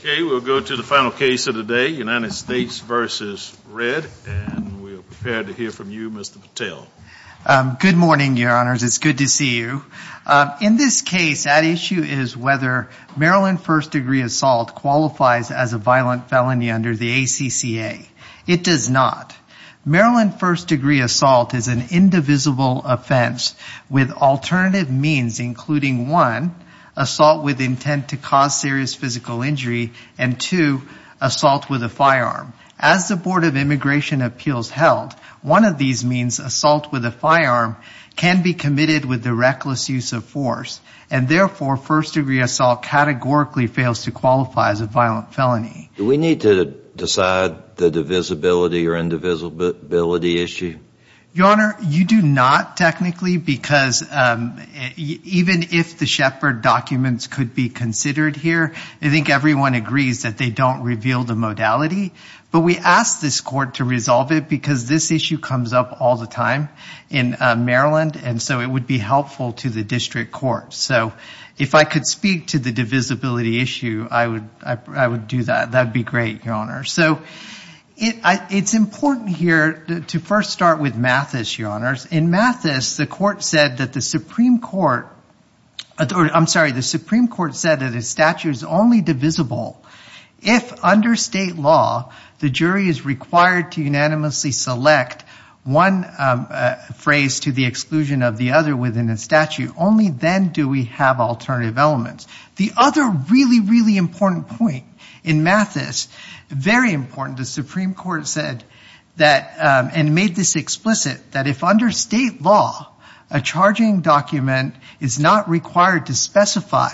Okay, we'll go to the final case of the day, United States v. Redd, and we are prepared to hear from you, Mr. Patel. Good morning, Your Honors. It's good to see you. In this case, at issue is whether Maryland first-degree assault qualifies as a violent felony under the ACCA. It does not. Maryland first-degree assault is an indivisible offense with alternative means, including, one, assault with intent to cause serious physical injury, and, two, assault with a firearm. As the Board of Immigration Appeals held, one of these means, assault with a firearm, can be committed with the reckless use of force. And, therefore, first-degree assault categorically fails to qualify as a violent felony. Do we need to decide the divisibility or indivisibility issue? Your Honor, you do not, technically, because even if the Shepard documents could be considered here, I think everyone agrees that they don't reveal the modality. But we ask this Court to resolve it because this issue comes up all the time in Maryland, and so it would be helpful to the District Court. So if I could speak to the divisibility issue, I would do that. That would be great, Your Honor. So it's important here to first start with Mathis, Your Honors. In Mathis, the Supreme Court said that a statute is only divisible if, under state law, the jury is required to unanimously select one phrase to the exclusion of the other within a statute. Only then do we have alternative elements. The other really, really important point in Mathis, very important, the Supreme Court said that, and made this explicit, that if, under state law, a charging document is not required to specify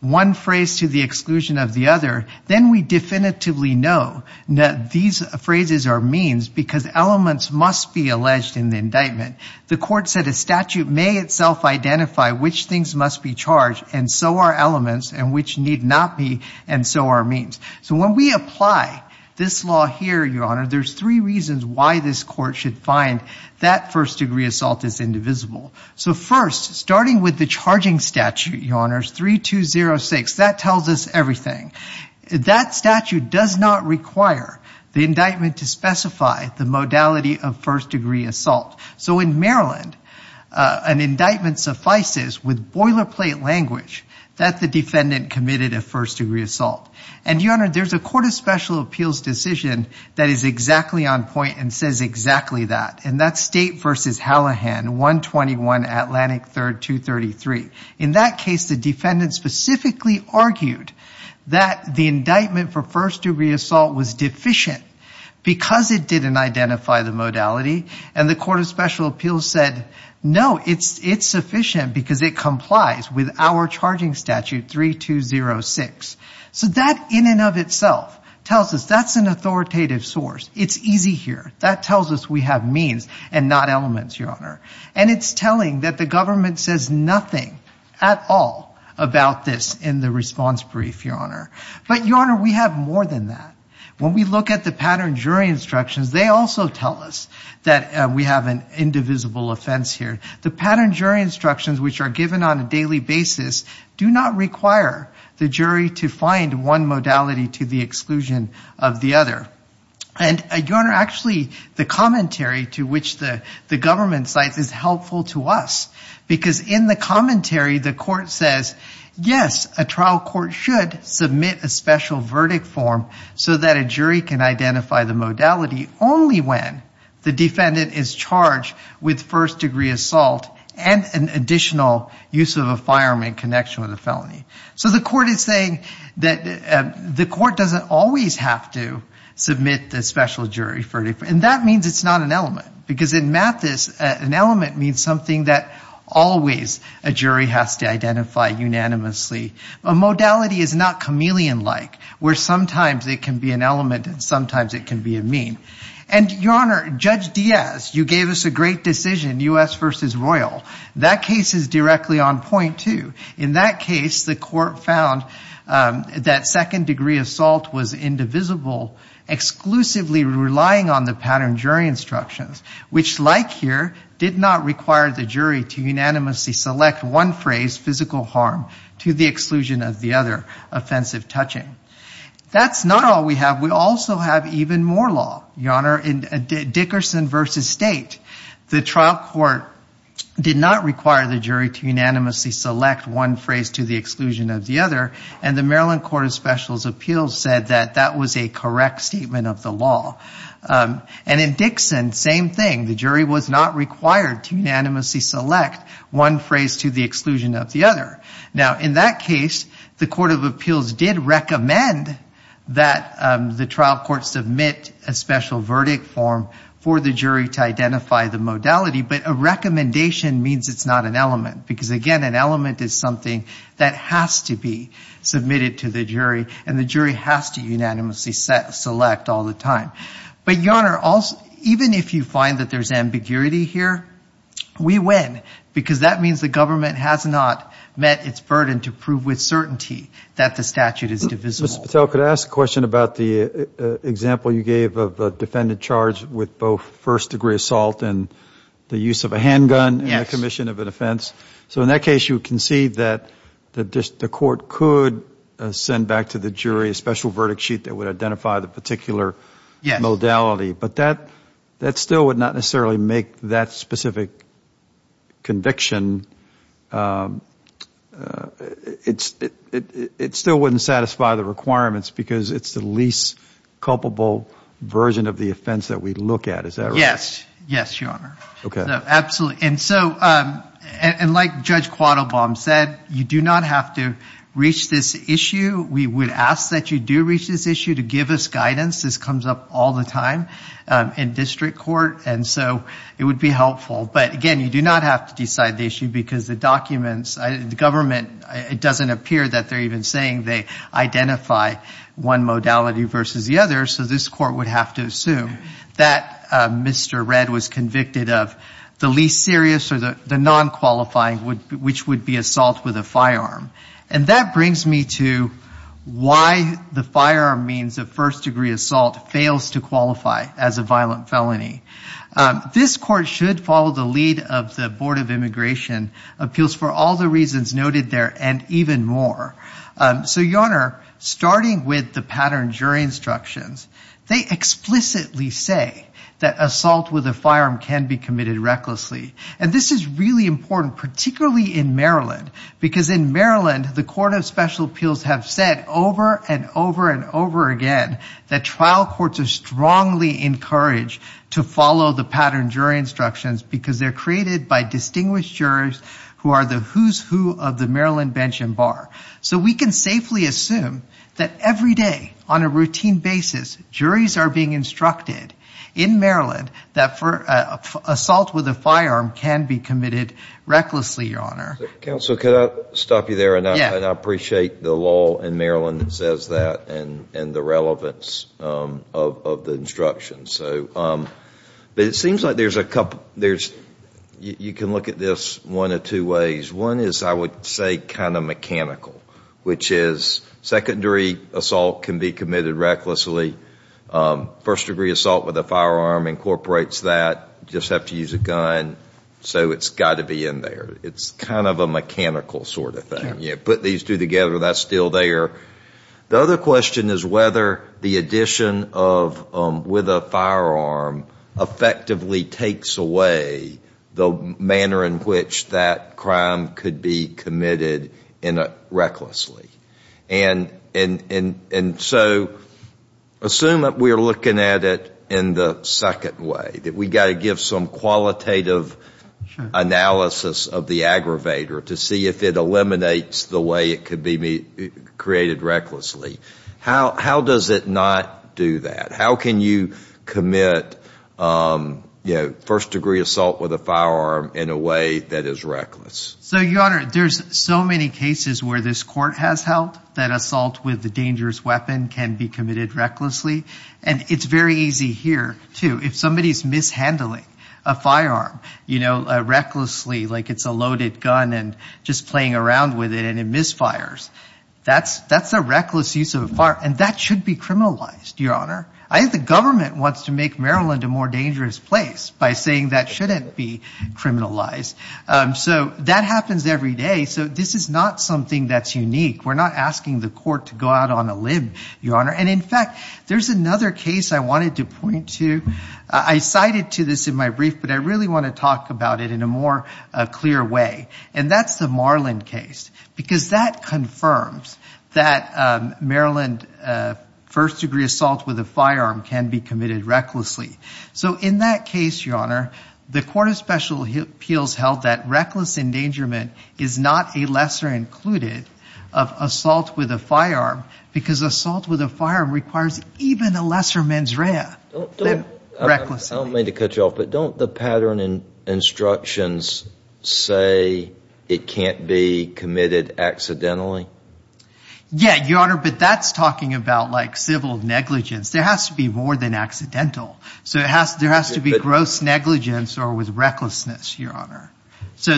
one phrase to the exclusion of the other, then we definitively know that these phrases are means because elements must be alleged in the indictment. The Court said a statute may itself identify which things must be charged, and so are elements, and which need not be, and so are means. So when we apply this law here, Your Honor, there's three reasons why this Court should find that first-degree assault is indivisible. So first, starting with the charging statute, Your Honors, 3206, that tells us everything. That statute does not require the indictment to specify the modality of first-degree assault. So in Maryland, an indictment suffices with boilerplate language that the defendant committed a first-degree assault. And, Your Honor, there's a Court of Special Appeals decision that is exactly on point and says exactly that, and that's State v. Hallahan, 121 Atlantic 3rd, 233. In that case, the defendant specifically argued that the indictment for first-degree assault was deficient because it didn't identify the modality, and the Court of Special Appeals said, no, it's sufficient because it complies with our charging statute 3206. So that in and of itself tells us that's an authoritative source. It's easy here. That tells us we have means and not elements, Your Honor. And it's telling that the government says nothing at all about this in the response brief, Your Honor. But, Your Honor, we have more than that. When we look at the pattern jury instructions, they also tell us that we have an indivisible offense here. The pattern jury instructions, which are given on a daily basis, do not require the jury to find one modality to the exclusion of the other. And, Your Honor, actually, the commentary to which the government cites is helpful to us because in the commentary, the court says, yes, a trial court should submit a special verdict form so that a jury can identify the modality only when the defendant is charged with first-degree assault and an additional use of a firearm in connection with a felony. So the court is saying that the court doesn't always have to submit the special jury verdict, and that means it's not an element because in Mathis, an element means something that always a jury has to identify unanimously. A modality is not chameleon-like where sometimes it can be an element and sometimes it can be a mean. And, Your Honor, Judge Diaz, you gave us a great decision, U.S. v. Royal. That case is directly on point, too. In that case, the court found that second-degree assault was indivisible exclusively relying on the pattern jury instructions, which, like here, did not require the jury to unanimously select one phrase, physical harm, to the exclusion of the other, offensive touching. That's not all we have. We also have even more law, Your Honor, in Dickerson v. State. The trial court did not require the jury to unanimously select one phrase to the exclusion of the other, and the Maryland Court of Special Appeals said that that was a correct statement of the law. And in Dickerson, same thing. The jury was not required to unanimously select one phrase to the exclusion of the other. Now, in that case, the court of appeals did recommend that the trial court submit a special verdict form for the jury to identify the modality, but a recommendation means it's not an element because, again, an element is something that has to be submitted to the jury, and the jury has to unanimously select all the time. But, Your Honor, even if you find that there's ambiguity here, we win because that means the government has not met its burden to prove with certainty that the statute is divisible. Mr. Patel, could I ask a question about the example you gave of a defendant charged with both first-degree assault and the use of a handgun in the commission of a defense? So in that case, you concede that the court could send back to the jury a special verdict sheet that would identify the particular modality. But that still would not necessarily make that specific conviction. It still wouldn't satisfy the requirements because it's the least culpable version of the offense that we look at. Is that right? Yes. Yes, Your Honor. Okay. Absolutely. And like Judge Quattlebaum said, you do not have to reach this issue. We would ask that you do reach this issue to give us guidance. This comes up all the time in district court, and so it would be helpful. But, again, you do not have to decide the issue because the documents, the government, it doesn't appear that they're even saying they identify one modality versus the other. So this court would have to assume that Mr. Redd was convicted of the least serious or the non-qualifying, which would be assault with a firearm. And that brings me to why the firearm means a first-degree assault fails to qualify as a violent felony. This court should follow the lead of the Board of Immigration Appeals for all the reasons noted there and even more. So, Your Honor, starting with the pattern jury instructions, they explicitly say that assault with a firearm can be committed recklessly. And this is really important, particularly in Maryland, because in Maryland the Court of Special Appeals have said over and over and over again that trial courts are strongly encouraged to follow the pattern jury instructions because they're created by distinguished jurors who are the who's who of the Maryland bench and bar. So we can safely assume that every day on a routine basis, juries are being instructed in Maryland that assault with a firearm can be committed recklessly, Your Honor. Counsel, can I stop you there? And I appreciate the law in Maryland that says that and the relevance of the instructions. But it seems like there's a couple, you can look at this one of two ways. One is, I would say, kind of mechanical, which is secondary assault can be committed recklessly. First-degree assault with a firearm incorporates that. You just have to use a gun, so it's got to be in there. It's kind of a mechanical sort of thing. You put these two together, that's still there. The other question is whether the addition of, with a firearm, effectively takes away the manner in which that crime could be committed recklessly. And so assume that we are looking at it in the second way, that we've got to give some qualitative analysis of the aggravator to see if it eliminates the way it could be created recklessly. How does it not do that? How can you commit first-degree assault with a firearm in a way that is reckless? So, Your Honor, there's so many cases where this court has held that assault with a dangerous weapon can be committed recklessly. And it's very easy here, too. If somebody is mishandling a firearm, you know, recklessly, like it's a loaded gun and just playing around with it and it misfires, that's a reckless use of a firearm. And that should be criminalized, Your Honor. I think the government wants to make Maryland a more dangerous place by saying that shouldn't be criminalized. So that happens every day. So this is not something that's unique. We're not asking the court to go out on a limb, Your Honor. And, in fact, there's another case I wanted to point to. I cited to this in my brief, but I really want to talk about it in a more clear way. And that's the Marland case, because that confirms that Maryland first-degree assault with a firearm can be committed recklessly. So in that case, Your Honor, the Court of Special Appeals held that reckless endangerment is not a lesser included of assault with a firearm because assault with a firearm requires even a lesser mens rea than recklessly. I don't mean to cut you off, but don't the pattern and instructions say it can't be committed accidentally? Yeah, Your Honor, but that's talking about, like, civil negligence. There has to be more than accidental. So there has to be gross negligence or with recklessness, Your Honor. So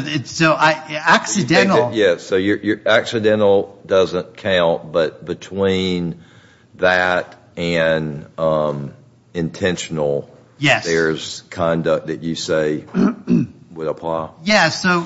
accidental. Yeah, so accidental doesn't count, but between that and intentional there's conduct that you say would apply. Yeah, so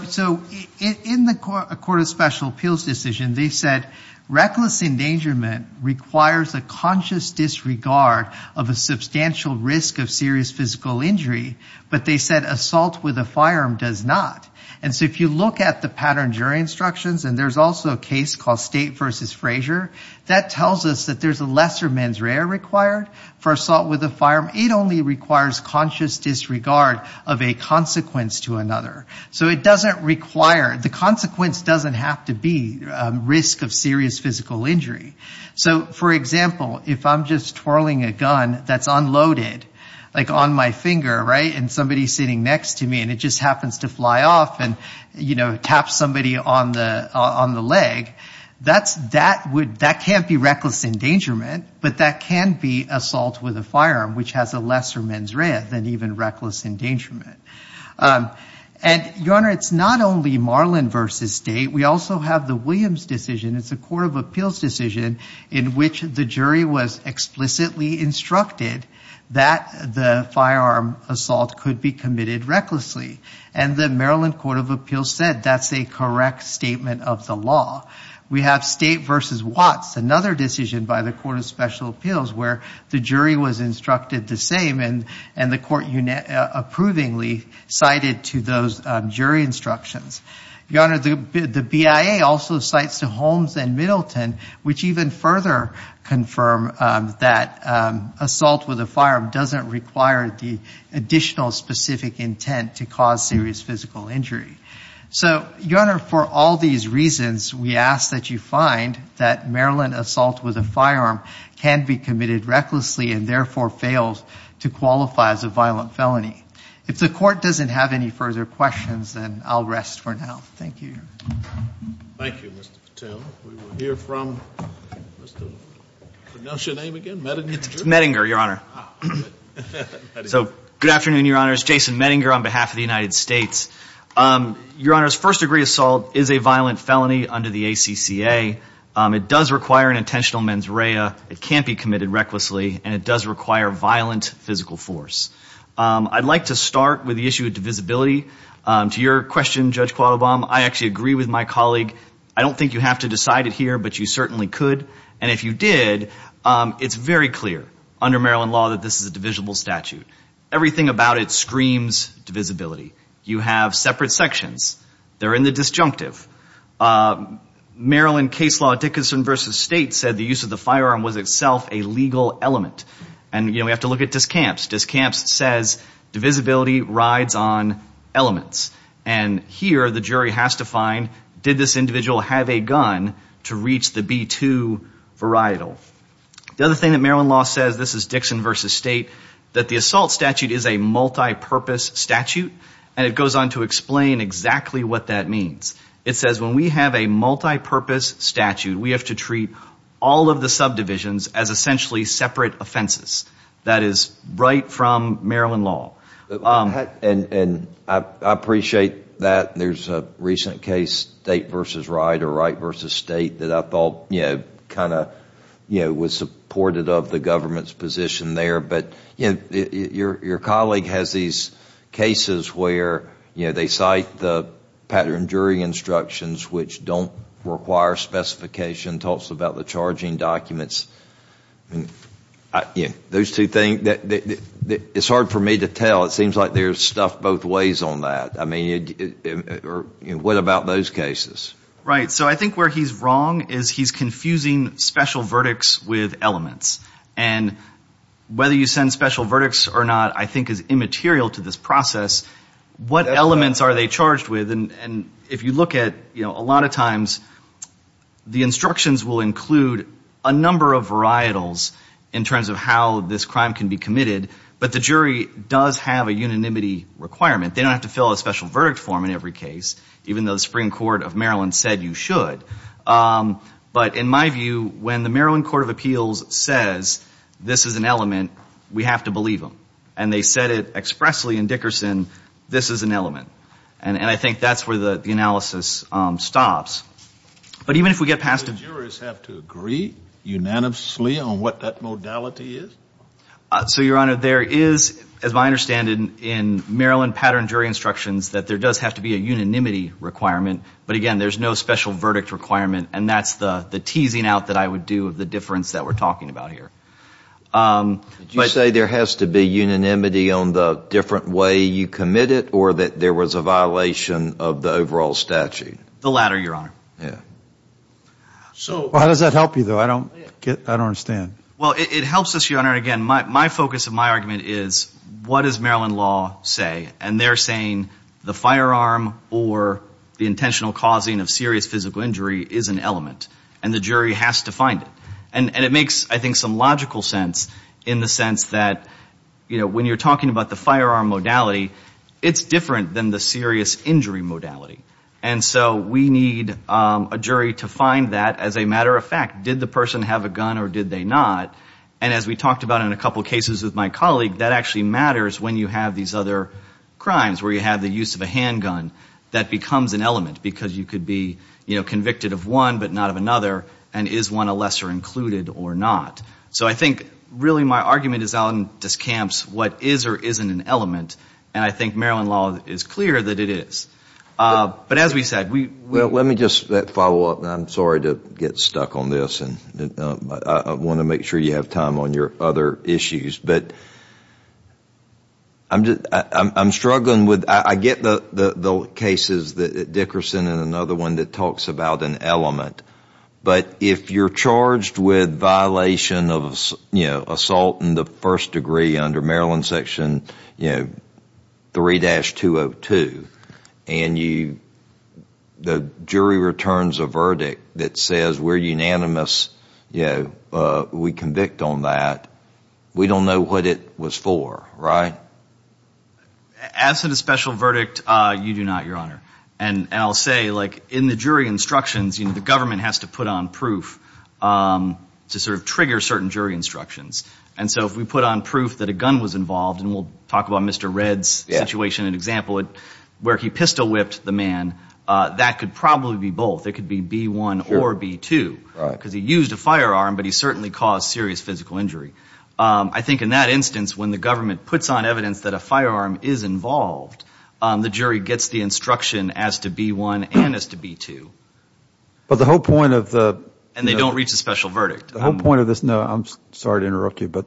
in the Court of Special Appeals decision, they said reckless endangerment requires a conscious disregard of a substantial risk of serious physical injury, but they said assault with a firearm does not. And so if you look at the pattern jury instructions, and there's also a case called State v. Frazier, that tells us that there's a lesser mens rea required for assault with a firearm. It only requires conscious disregard of a consequence to another. So it doesn't require the consequence doesn't have to be risk of serious physical injury. So, for example, if I'm just twirling a gun that's unloaded, like on my finger, right, and somebody is sitting next to me and it just happens to fly off and, you know, tap somebody on the leg, that can't be reckless endangerment, but that can be assault with a firearm, which has a lesser mens rea than even reckless endangerment. And, Your Honor, it's not only Marlin v. State. We also have the Williams decision. It's a Court of Appeals decision in which the jury was explicitly instructed that the firearm assault could be committed recklessly. And the Marlin Court of Appeals said that's a correct statement of the law. We have State v. Watts, another decision by the Court of Special Appeals where the jury was instructed the same and the court approvingly cited to those jury instructions. Your Honor, the BIA also cites the Holmes and Middleton, which even further confirm that assault with a firearm doesn't require the additional specific intent to cause serious physical injury. So, Your Honor, for all these reasons, we ask that you find that Marlin assault with a firearm can be committed recklessly and therefore fails to qualify as a violent felony. If the court doesn't have any further questions, then I'll rest for now. Thank you. Thank you, Mr. Patel. We will hear from Mr. What's your name again? Medinger? Medinger, Your Honor. So, good afternoon, Your Honors. Jason Medinger on behalf of the United States. Your Honors, first-degree assault is a violent felony under the ACCA. It does require an intentional mens rea. It can't be committed recklessly, and it does require violent physical force. I'd like to start with the issue of divisibility. To your question, Judge Qualobam, I actually agree with my colleague. I don't think you have to decide it here, but you certainly could. And if you did, it's very clear under Maryland law that this is a divisible statute. Everything about it screams divisibility. You have separate sections. They're in the disjunctive. Maryland case law Dickinson v. State said the use of the firearm was itself a legal element. And, you know, we have to look at Discamps. Discamps says divisibility rides on elements. And here the jury has to find did this individual have a gun to reach the B-2 varietal. The other thing that Maryland law says, this is Dickinson v. State, that the assault statute is a multipurpose statute, and it goes on to explain exactly what that means. It says when we have a multipurpose statute, we have to treat all of the subdivisions as essentially separate offenses. That is right from Maryland law. And I appreciate that. There's a recent case, State v. Ride or Ride v. State, that I thought, you know, kind of was supportive of the government's position there. But, you know, your colleague has these cases where, you know, they cite the pattern jury instructions which don't require specification, talks about the charging documents. Those two things, it's hard for me to tell. It seems like there's stuff both ways on that. I mean, what about those cases? Right. So I think where he's wrong is he's confusing special verdicts with elements. And whether you send special verdicts or not I think is immaterial to this process. What elements are they charged with? And if you look at, you know, a lot of times the instructions will include a number of varietals in terms of how this crime can be committed. But the jury does have a unanimity requirement. They don't have to fill a special verdict form in every case, even though the Supreme Court of Maryland said you should. But in my view, when the Maryland Court of Appeals says this is an element, we have to believe them. And they said it expressly in Dickerson, this is an element. And I think that's where the analysis stops. But even if we get past it. Do the jurors have to agree unanimously on what that modality is? So, Your Honor, there is, as I understand it, in Maryland pattern jury instructions that there does have to be a unanimity requirement. But, again, there's no special verdict requirement. And that's the teasing out that I would do of the difference that we're talking about here. But you say there has to be unanimity on the different way you commit it or that there was a violation of the overall statute? The latter, Your Honor. Yeah. How does that help you, though? I don't understand. Well, it helps us, Your Honor. Again, my focus of my argument is what does Maryland law say? And they're saying the firearm or the intentional causing of serious physical injury is an element. And the jury has to find it. And it makes, I think, some logical sense in the sense that, you know, when you're talking about the firearm modality, it's different than the serious injury modality. And so we need a jury to find that as a matter of fact. Did the person have a gun or did they not? And as we talked about in a couple cases with my colleague, that actually matters when you have these other crimes where you have the use of a handgun. That becomes an element because you could be, you know, convicted of one but not of another. And is one a lesser included or not? So I think really my argument is Allen discounts what is or isn't an element. And I think Maryland law is clear that it is. But as we said, we ‑‑ Well, let me just follow up. I'm sorry to get stuck on this. I want to make sure you have time on your other issues. But I'm struggling with ‑‑ I get the cases that Dickerson and another one that talks about an element. But if you're charged with violation of assault in the first degree under Maryland Section 3‑202 and the jury returns a verdict that says we're unanimous, we convict on that, we don't know what it was for, right? Absent a special verdict, you do not, Your Honor. And I'll say, like, in the jury instructions, you know, the government has to put on proof to sort of trigger certain jury instructions. And so if we put on proof that a gun was involved, and we'll talk about Mr. Redd's situation and example where he pistol whipped the man, that could probably be both. It could be B1 or B2 because he used a firearm, but he certainly caused serious physical injury. I think in that instance, when the government puts on evidence that a firearm is involved, the jury gets the instruction as to B1 and as to B2. But the whole point of the ‑‑ And they don't reach a special verdict. The whole point of this, no, I'm sorry to interrupt you, but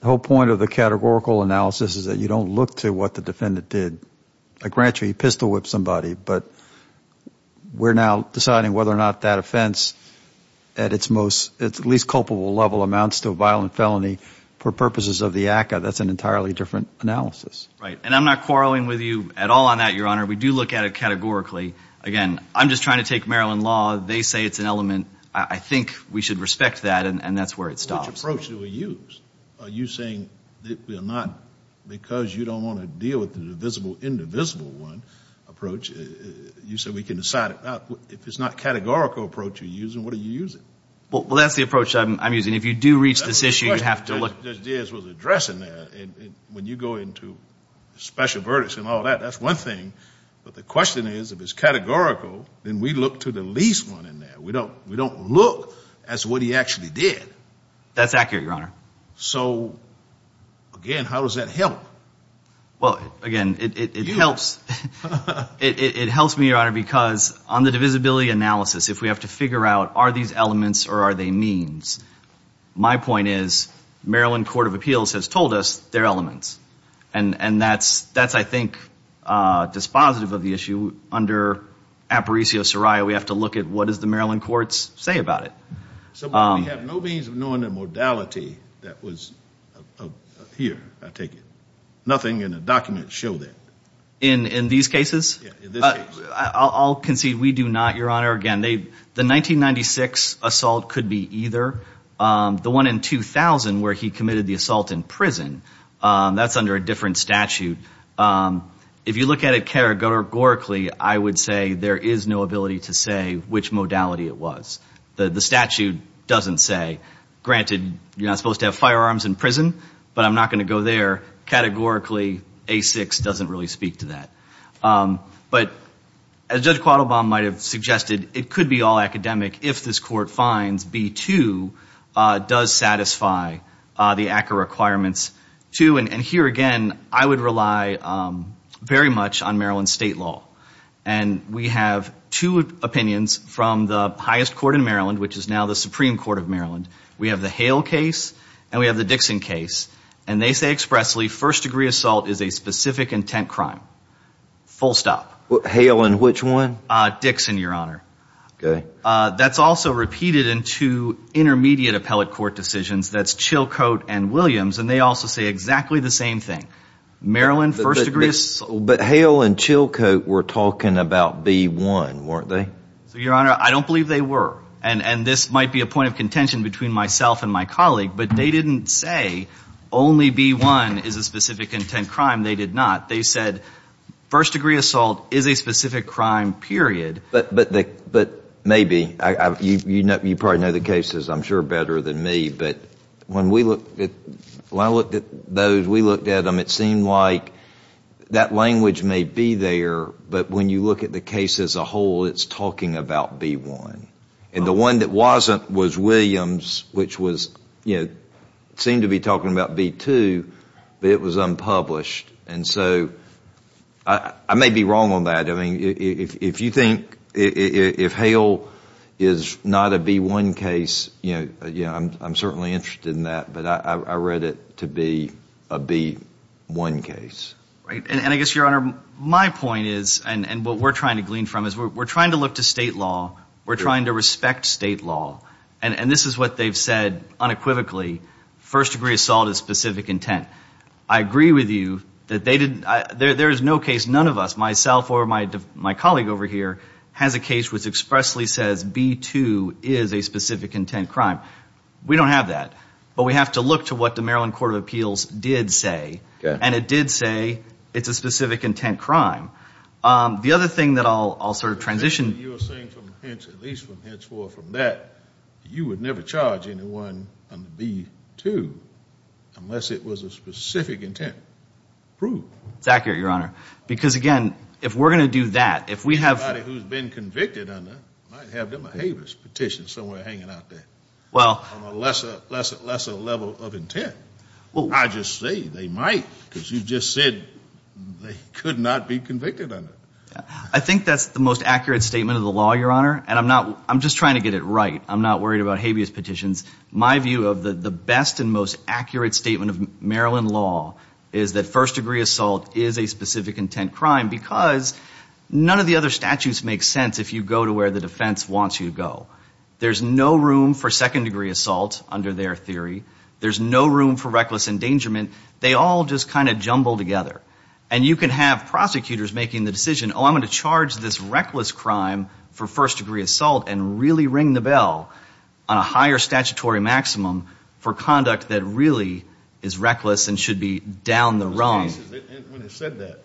the whole point of the categorical analysis is that you don't look to what the defendant did. I grant you he pistol whipped somebody, but we're now deciding whether or not that offense at its most, its least culpable level amounts to a violent felony for purposes of the ACCA. That's an entirely different analysis. Right. And I'm not quarreling with you at all on that, Your Honor. We do look at it categorically. Again, I'm just trying to take Maryland law. They say it's an element. I think we should respect that, and that's where it stops. Which approach do we use? Are you saying that we are not, because you don't want to deal with the divisible, indivisible one approach, you said we can decide it. If it's not a categorical approach you're using, what are you using? Well, that's the approach I'm using. If you do reach this issue, you have to look. Judge Diaz was addressing that. When you go into special verdicts and all that, that's one thing. But the question is, if it's categorical, then we look to the least one in there. We don't look at what he actually did. That's accurate, Your Honor. So, again, how does that help? Well, again, it helps. It helps me, Your Honor, because on the divisibility analysis, if we have to figure out are these elements or are they means, my point is Maryland Court of Appeals has told us they're elements. And that's, I think, dispositive of the issue. Under aparesio soraia, we have to look at what does the Maryland courts say about it. So we have no means of knowing the modality that was here, I take it. Nothing in the documents show that. In these cases? Yeah, in this case. I'll concede we do not, Your Honor. Again, the 1996 assault could be either. The one in 2000 where he committed the assault in prison, that's under a different statute. If you look at it categorically, I would say there is no ability to say which modality it was. The statute doesn't say. Granted, you're not supposed to have firearms in prison, but I'm not going to go there. Categorically, A6 doesn't really speak to that. But as Judge Quattlebaum might have suggested, it could be all academic if this court finds B2 does satisfy the ACCA requirements, too. And here again, I would rely very much on Maryland state law. And we have two opinions from the highest court in Maryland, which is now the Supreme Court of Maryland. We have the Hale case and we have the Dixon case. And they say expressly, first degree assault is a specific intent crime. Full stop. Hale in which one? Dixon, Your Honor. Okay. That's also repeated in two intermediate appellate court decisions. That's Chilcote and Williams. And they also say exactly the same thing. Maryland, first degree assault. But Hale and Chilcote were talking about B1, weren't they? Your Honor, I don't believe they were. And this might be a point of contention between myself and my colleague, but they didn't say only B1 is a specific intent crime. They did not. They said first degree assault is a specific crime, period. But maybe. You probably know the cases, I'm sure, better than me. But when I looked at those, we looked at them, it seemed like that language may be there, but when you look at the case as a whole, it's talking about B1. And the one that wasn't was Williams, which was, you know, seemed to be talking about B2, but it was unpublished. And so I may be wrong on that. I mean, if you think if Hale is not a B1 case, you know, I'm certainly interested in that, but I read it to be a B1 case. And I guess, Your Honor, my point is, and what we're trying to glean from, is we're trying to look to state law. We're trying to respect state law. And this is what they've said unequivocally, first degree assault is specific intent. I agree with you that there is no case, none of us, myself or my colleague over here, has a case which expressly says B2 is a specific intent crime. We don't have that. But we have to look to what the Maryland Court of Appeals did say, and it did say it's a specific intent crime. The other thing that I'll sort of transition. You were saying from hence, at least from henceforth from that, you would never charge anyone under B2 unless it was a specific intent. Prove. It's accurate, Your Honor. Because, again, if we're going to do that, if we have... Anybody who's been convicted under might have them a Havis petition somewhere hanging out there. Well. On a lesser level of intent. I just say they might because you just said they could not be convicted under. I think that's the most accurate statement of the law, Your Honor, and I'm just trying to get it right. I'm not worried about Havis petitions. My view of the best and most accurate statement of Maryland law is that first degree assault is a specific intent crime because none of the other statutes make sense if you go to where the defense wants you to go. There's no room for second degree assault under their theory. There's no room for reckless endangerment. They all just kind of jumble together, and you can have prosecutors making the decision, oh, I'm going to charge this reckless crime for first degree assault and really ring the bell on a higher statutory maximum for conduct that really is reckless and should be down the rung. When they said that,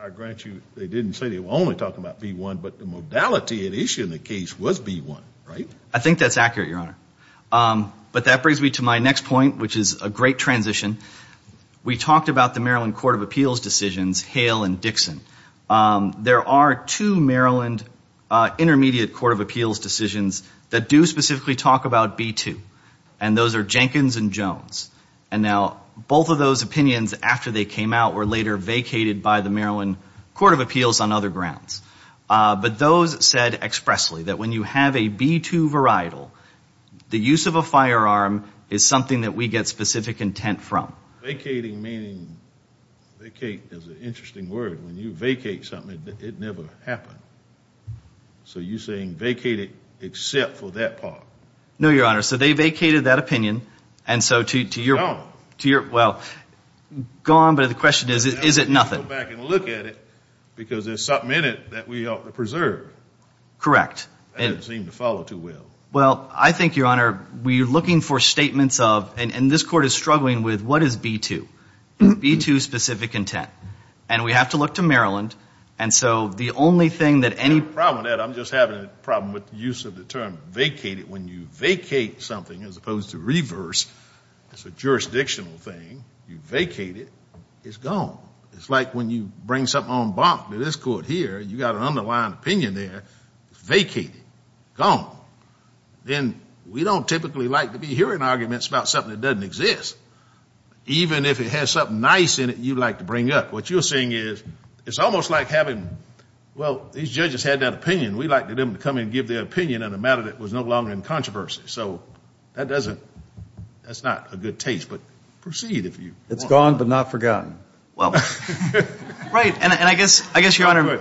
I grant you they didn't say they were only talking about B1, but the modality at issue in the case was B1, right? I think that's accurate, Your Honor. But that brings me to my next point, which is a great transition. We talked about the Maryland Court of Appeals decisions, Hale and Dixon. There are two Maryland intermediate Court of Appeals decisions that do specifically talk about B2, and those are Jenkins and Jones. And now both of those opinions, after they came out, were later vacated by the Maryland Court of Appeals on other grounds. But those said expressly that when you have a B2 varietal, the use of a firearm is something that we get specific intent from. Vacating meaning vacate is an interesting word. When you vacate something, it never happened. So you're saying vacate it except for that part. No, Your Honor. So they vacated that opinion, and so to your point, well, go on. But the question is, is it nothing? Because there's something in it that we ought to preserve. Correct. And it didn't seem to follow too well. Well, I think, Your Honor, we're looking for statements of, and this Court is struggling with what is B2, B2 specific intent. And we have to look to Maryland, and so the only thing that any— No problem with that. I'm just having a problem with the use of the term vacate it. When you vacate something as opposed to reverse, it's a jurisdictional thing. You vacate it. It's gone. It's like when you bring something on bonk to this Court here, you've got an underlying opinion there. It's vacated. Gone. Then we don't typically like to be hearing arguments about something that doesn't exist. Even if it has something nice in it you'd like to bring up. What you're saying is it's almost like having, well, these judges had that opinion. We'd like for them to come in and give their opinion on a matter that was no longer in controversy. So that doesn't—that's not a good taste. But proceed if you want. It's gone but not forgotten. Well, right. And I guess, Your Honor,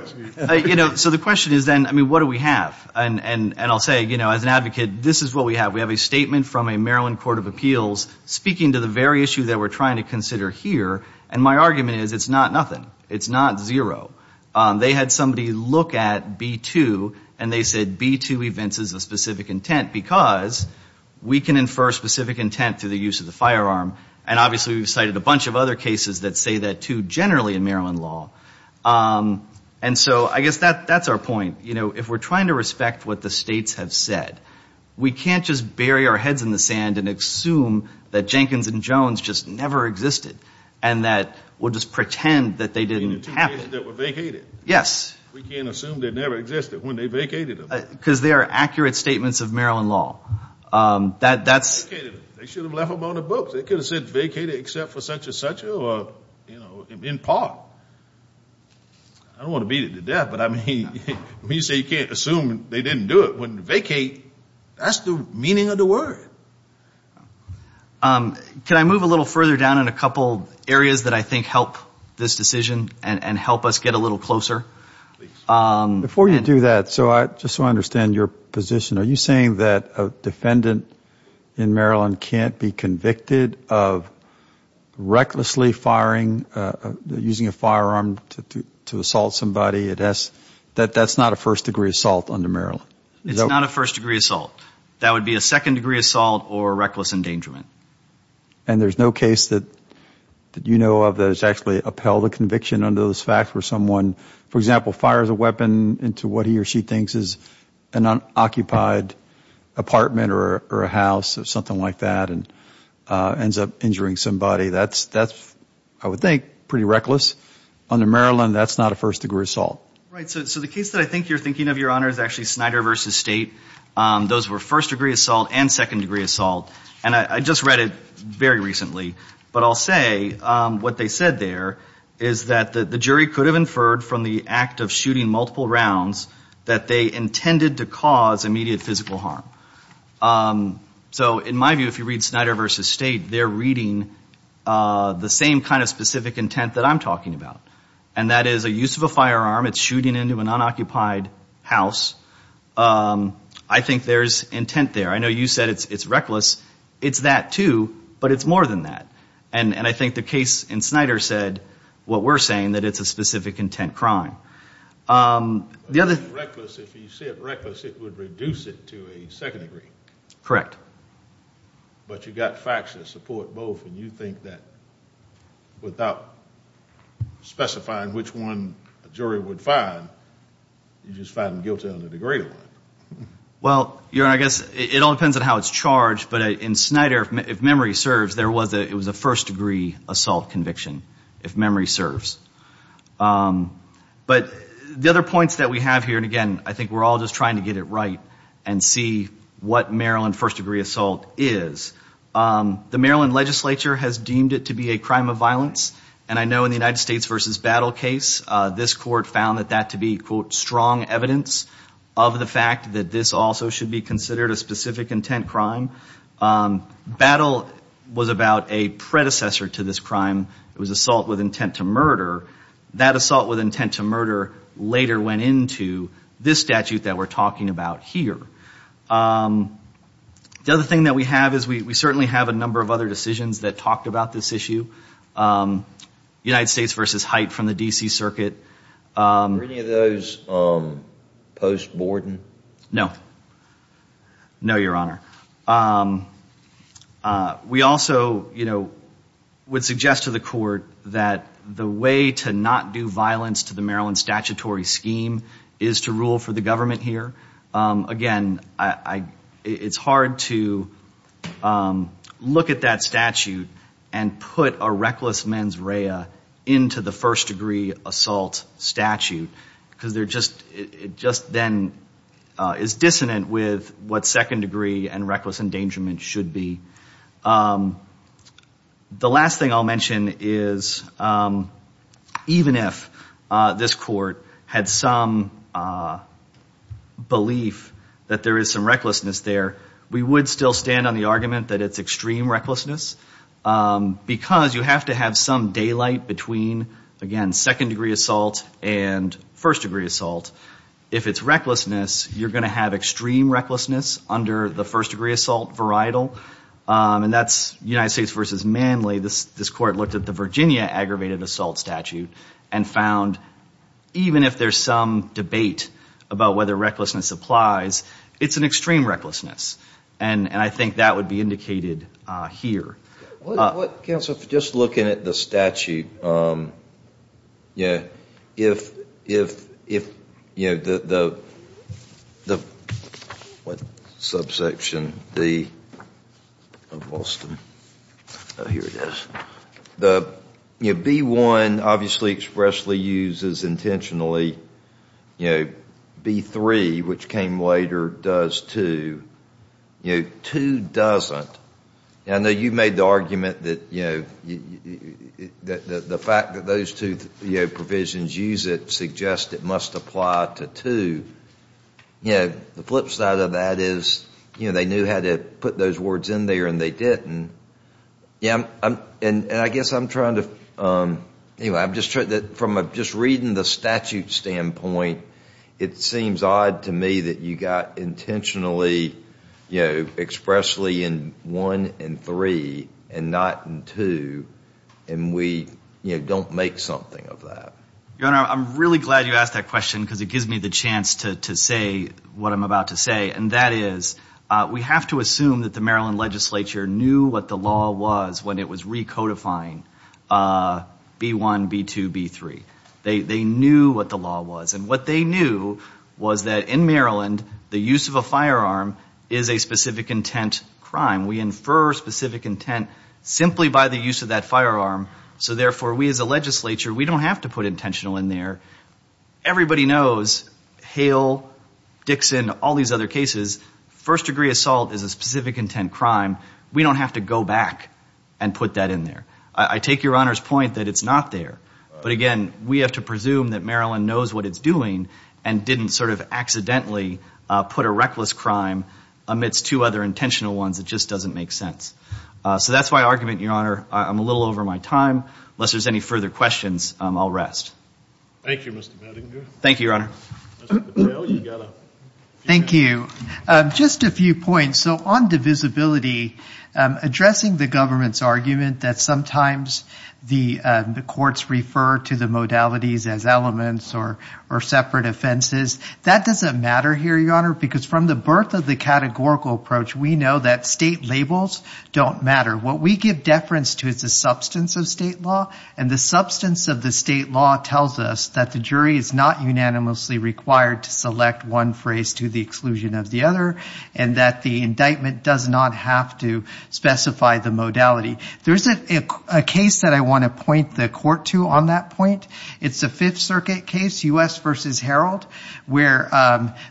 you know, so the question is then, I mean, what do we have? And I'll say, you know, as an advocate, this is what we have. We have a statement from a Maryland court of appeals speaking to the very issue that we're trying to consider here, and my argument is it's not nothing. It's not zero. They had somebody look at B-2, and they said B-2 evinces a specific intent because we can infer specific intent through the use of the firearm. And obviously we've cited a bunch of other cases that say that, too, generally in Maryland law. And so I guess that's our point. You know, if we're trying to respect what the states have said, we can't just bury our heads in the sand and assume that Jenkins and Jones just never existed and that we'll just pretend that they didn't happen. In the two cases that were vacated. Yes. We can't assume they never existed when they vacated them. Because they are accurate statements of Maryland law. They should have left them on the books. They could have said vacated except for such and such or, you know, in part. I don't want to beat it to death, but, I mean, when you say you can't assume they didn't do it, when they vacate, that's the meaning of the word. Can I move a little further down in a couple areas that I think help this decision and help us get a little closer? Before you do that, just so I understand your position, are you saying that a defendant in Maryland can't be convicted of recklessly firing, using a firearm to assault somebody, that that's not a first degree assault under Maryland? It's not a first degree assault. That would be a second degree assault or reckless endangerment. And there's no case that you know of that has actually upheld a conviction under those facts where someone, for example, fires a weapon into what he or she thinks is an unoccupied apartment or a house or something like that and ends up injuring somebody. That's, I would think, pretty reckless. Under Maryland, that's not a first degree assault. Right. So the case that I think you're thinking of, Your Honor, is actually Snyder v. State. Those were first degree assault and second degree assault. And I just read it very recently. But I'll say what they said there is that the jury could have inferred from the act of shooting multiple rounds that they intended to cause immediate physical harm. So in my view, if you read Snyder v. State, they're reading the same kind of specific intent that I'm talking about, and that is a use of a firearm. It's shooting into an unoccupied house. I think there's intent there. I know you said it's reckless. It's that, too, but it's more than that. And I think the case in Snyder said what we're saying, that it's a specific intent crime. The other thing is reckless. If you said reckless, it would reduce it to a second degree. Correct. But you've got facts that support both, and you think that without specifying which one a jury would find, you're just finding guilty under the greater one. Well, Your Honor, I guess it all depends on how it's charged. But in Snyder, if memory serves, there was a first degree assault conviction, if memory serves. But the other points that we have here, and again, I think we're all just trying to get it right and see what Maryland first degree assault is. The Maryland legislature has deemed it to be a crime of violence, and I know in the United States v. Battle case, this court found that that to be, quote, strong evidence of the fact that this also should be considered a specific intent crime. Battle was about a predecessor to this crime. It was assault with intent to murder. That assault with intent to murder later went into this statute that we're talking about here. The other thing that we have is we certainly have a number of other decisions that talked about this issue. United States v. Hite from the D.C. Circuit. Were any of those post-Borden? No. No, Your Honor. We also would suggest to the court that the way to not do violence to the Maryland statutory scheme is to rule for the government here. Again, it's hard to look at that statute and put a reckless mens rea into the first degree assault statute because it just then is dissonant with what second degree and reckless endangerment should be. The last thing I'll mention is even if this court had some belief that there is some recklessness there, we would still stand on the argument that it's extreme recklessness because you have to have some daylight between, again, second degree assault and first degree assault. If it's recklessness, you're going to have extreme recklessness under the first degree assault varietal, and that's United States v. Manley. This court looked at the Virginia aggravated assault statute and found even if there's some debate about whether recklessness applies, it's an extreme recklessness, and I think that would be indicated here. Counsel, just looking at the statute, if the B-1 obviously expressly uses intentionally. B-3, which came later, does, too. B-2 doesn't. I know you made the argument that the fact that those two provisions use it suggests it must apply to B-2. The flip side of that is they knew how to put those words in there and they didn't. I guess I'm trying to, anyway, from just reading the statute standpoint, it seems odd to me that you got intentionally expressly in 1 and 3 and not in 2, and we don't make something of that. Your Honor, I'm really glad you asked that question because it gives me the chance to say what I'm about to say, and that is we have to assume that the Maryland legislature knew what the law was when it was recodifying B-1, B-2, B-3. They knew what the law was, and what they knew was that in Maryland, the use of a firearm is a specific intent crime. We infer specific intent simply by the use of that firearm, so therefore we as a legislature, we don't have to put intentional in there. Everybody knows Hale, Dixon, all these other cases, first degree assault is a specific intent crime. We don't have to go back and put that in there. I take Your Honor's point that it's not there, but again, we have to presume that Maryland knows what it's doing and didn't sort of accidentally put a reckless crime amidst two other intentional ones. It just doesn't make sense. So that's my argument, Your Honor. I'm a little over my time. Unless there's any further questions, I'll rest. Thank you, Mr. Mattingly. Thank you, Your Honor. Thank you. Just a few points. So on divisibility, addressing the government's argument that sometimes the courts refer to the modalities as elements or separate offenses, that doesn't matter here, Your Honor, because from the birth of the categorical approach, we know that state labels don't matter. What we give deference to is the substance of state law, and the substance of the state law tells us that the jury is not unanimously required to select one phrase to the exclusion of the other and that the indictment does not have to specify the modality. There is a case that I want to point the court to on that point. It's a Fifth Circuit case, U.S. v. Herald, where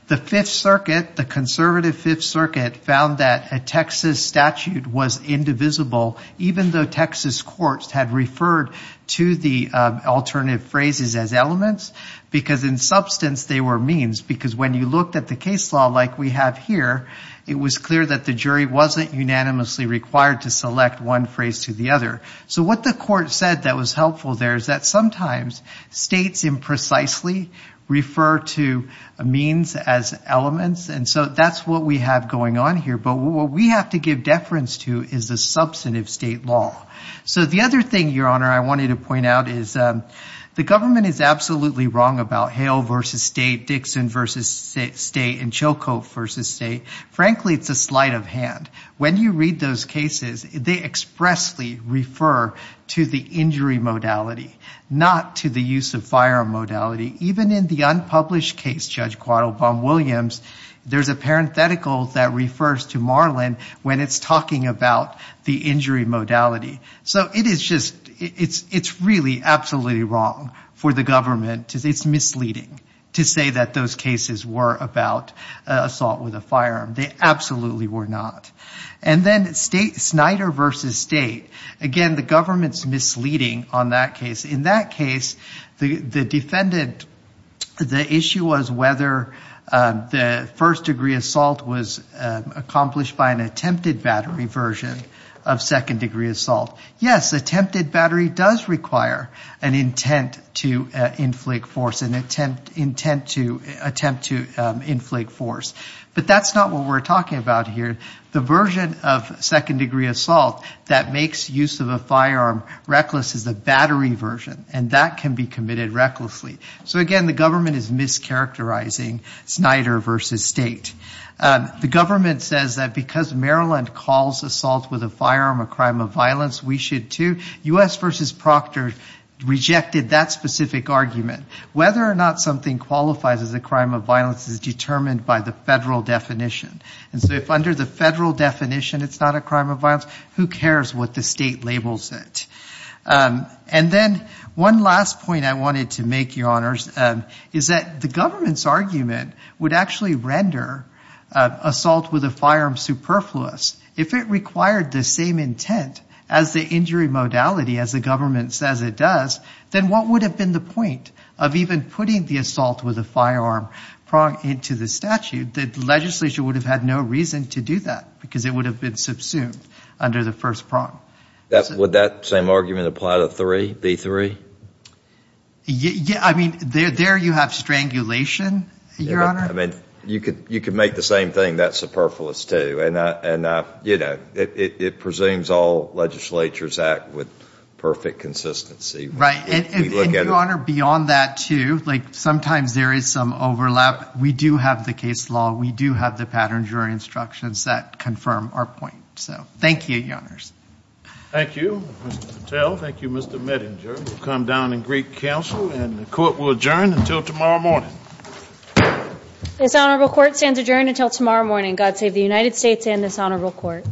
the Fifth Circuit, the conservative Fifth Circuit, found that a Texas statute was indivisible, even though Texas courts had referred to the alternative phrases as elements, because in substance they were means. Because when you looked at the case law like we have here, it was clear that the jury wasn't unanimously required to select one phrase to the other. So what the court said that was helpful there is that sometimes states imprecisely refer to means as elements, and so that's what we have going on here. But what we have to give deference to is the substance of state law. So the other thing, Your Honor, I wanted to point out is the government is absolutely wrong about Hale v. State, Dixon v. State, and Chilcote v. State. Frankly, it's a sleight of hand. When you read those cases, they expressly refer to the injury modality, not to the use of firearm modality. Even in the unpublished case, Judge Quattle v. Williams, there's a parenthetical that refers to Marlin when it's talking about the injury modality. So it is just, it's really absolutely wrong for the government. It's misleading to say that those cases were about assault with a firearm. They absolutely were not. And then Snyder v. State. Again, the government's misleading on that case. In that case, the defendant, the issue was whether the first degree assault was accomplished by an attempted battery version of second degree assault. Yes, attempted battery does require an intent to inflict force, an intent to attempt to inflict force. But that's not what we're talking about here. The version of second degree assault that makes use of a firearm reckless is the battery version. And that can be committed recklessly. So again, the government is mischaracterizing Snyder v. State. The government says that because Maryland calls assault with a firearm a crime of violence, we should too. U.S. v. Procter rejected that specific argument. Whether or not something qualifies as a crime of violence is determined by the federal definition. And so if under the federal definition it's not a crime of violence, who cares what the state labels it. And then one last point I wanted to make, Your Honors, is that the government's argument would actually render assault with a firearm superfluous. If it required the same intent as the injury modality as the government says it does, then what would have been the point of even putting the assault with a firearm prong into the statute? The legislature would have had no reason to do that because it would have been subsumed under the first prong. Would that same argument apply to 3, v. 3? Yeah, I mean, there you have strangulation, Your Honor. I mean, you could make the same thing that's superfluous too. And, you know, it presumes all legislatures act with perfect consistency. Right. And, Your Honor, beyond that too, like sometimes there is some overlap. We do have the case law. We do have the pattern jury instructions that confirm our point. So thank you, Your Honors. Thank you, Mr. Patel. Thank you, Mr. Mettinger. We'll come down and greet counsel, and the court will adjourn until tomorrow morning. This honorable court stands adjourned until tomorrow morning. God save the United States and this honorable court.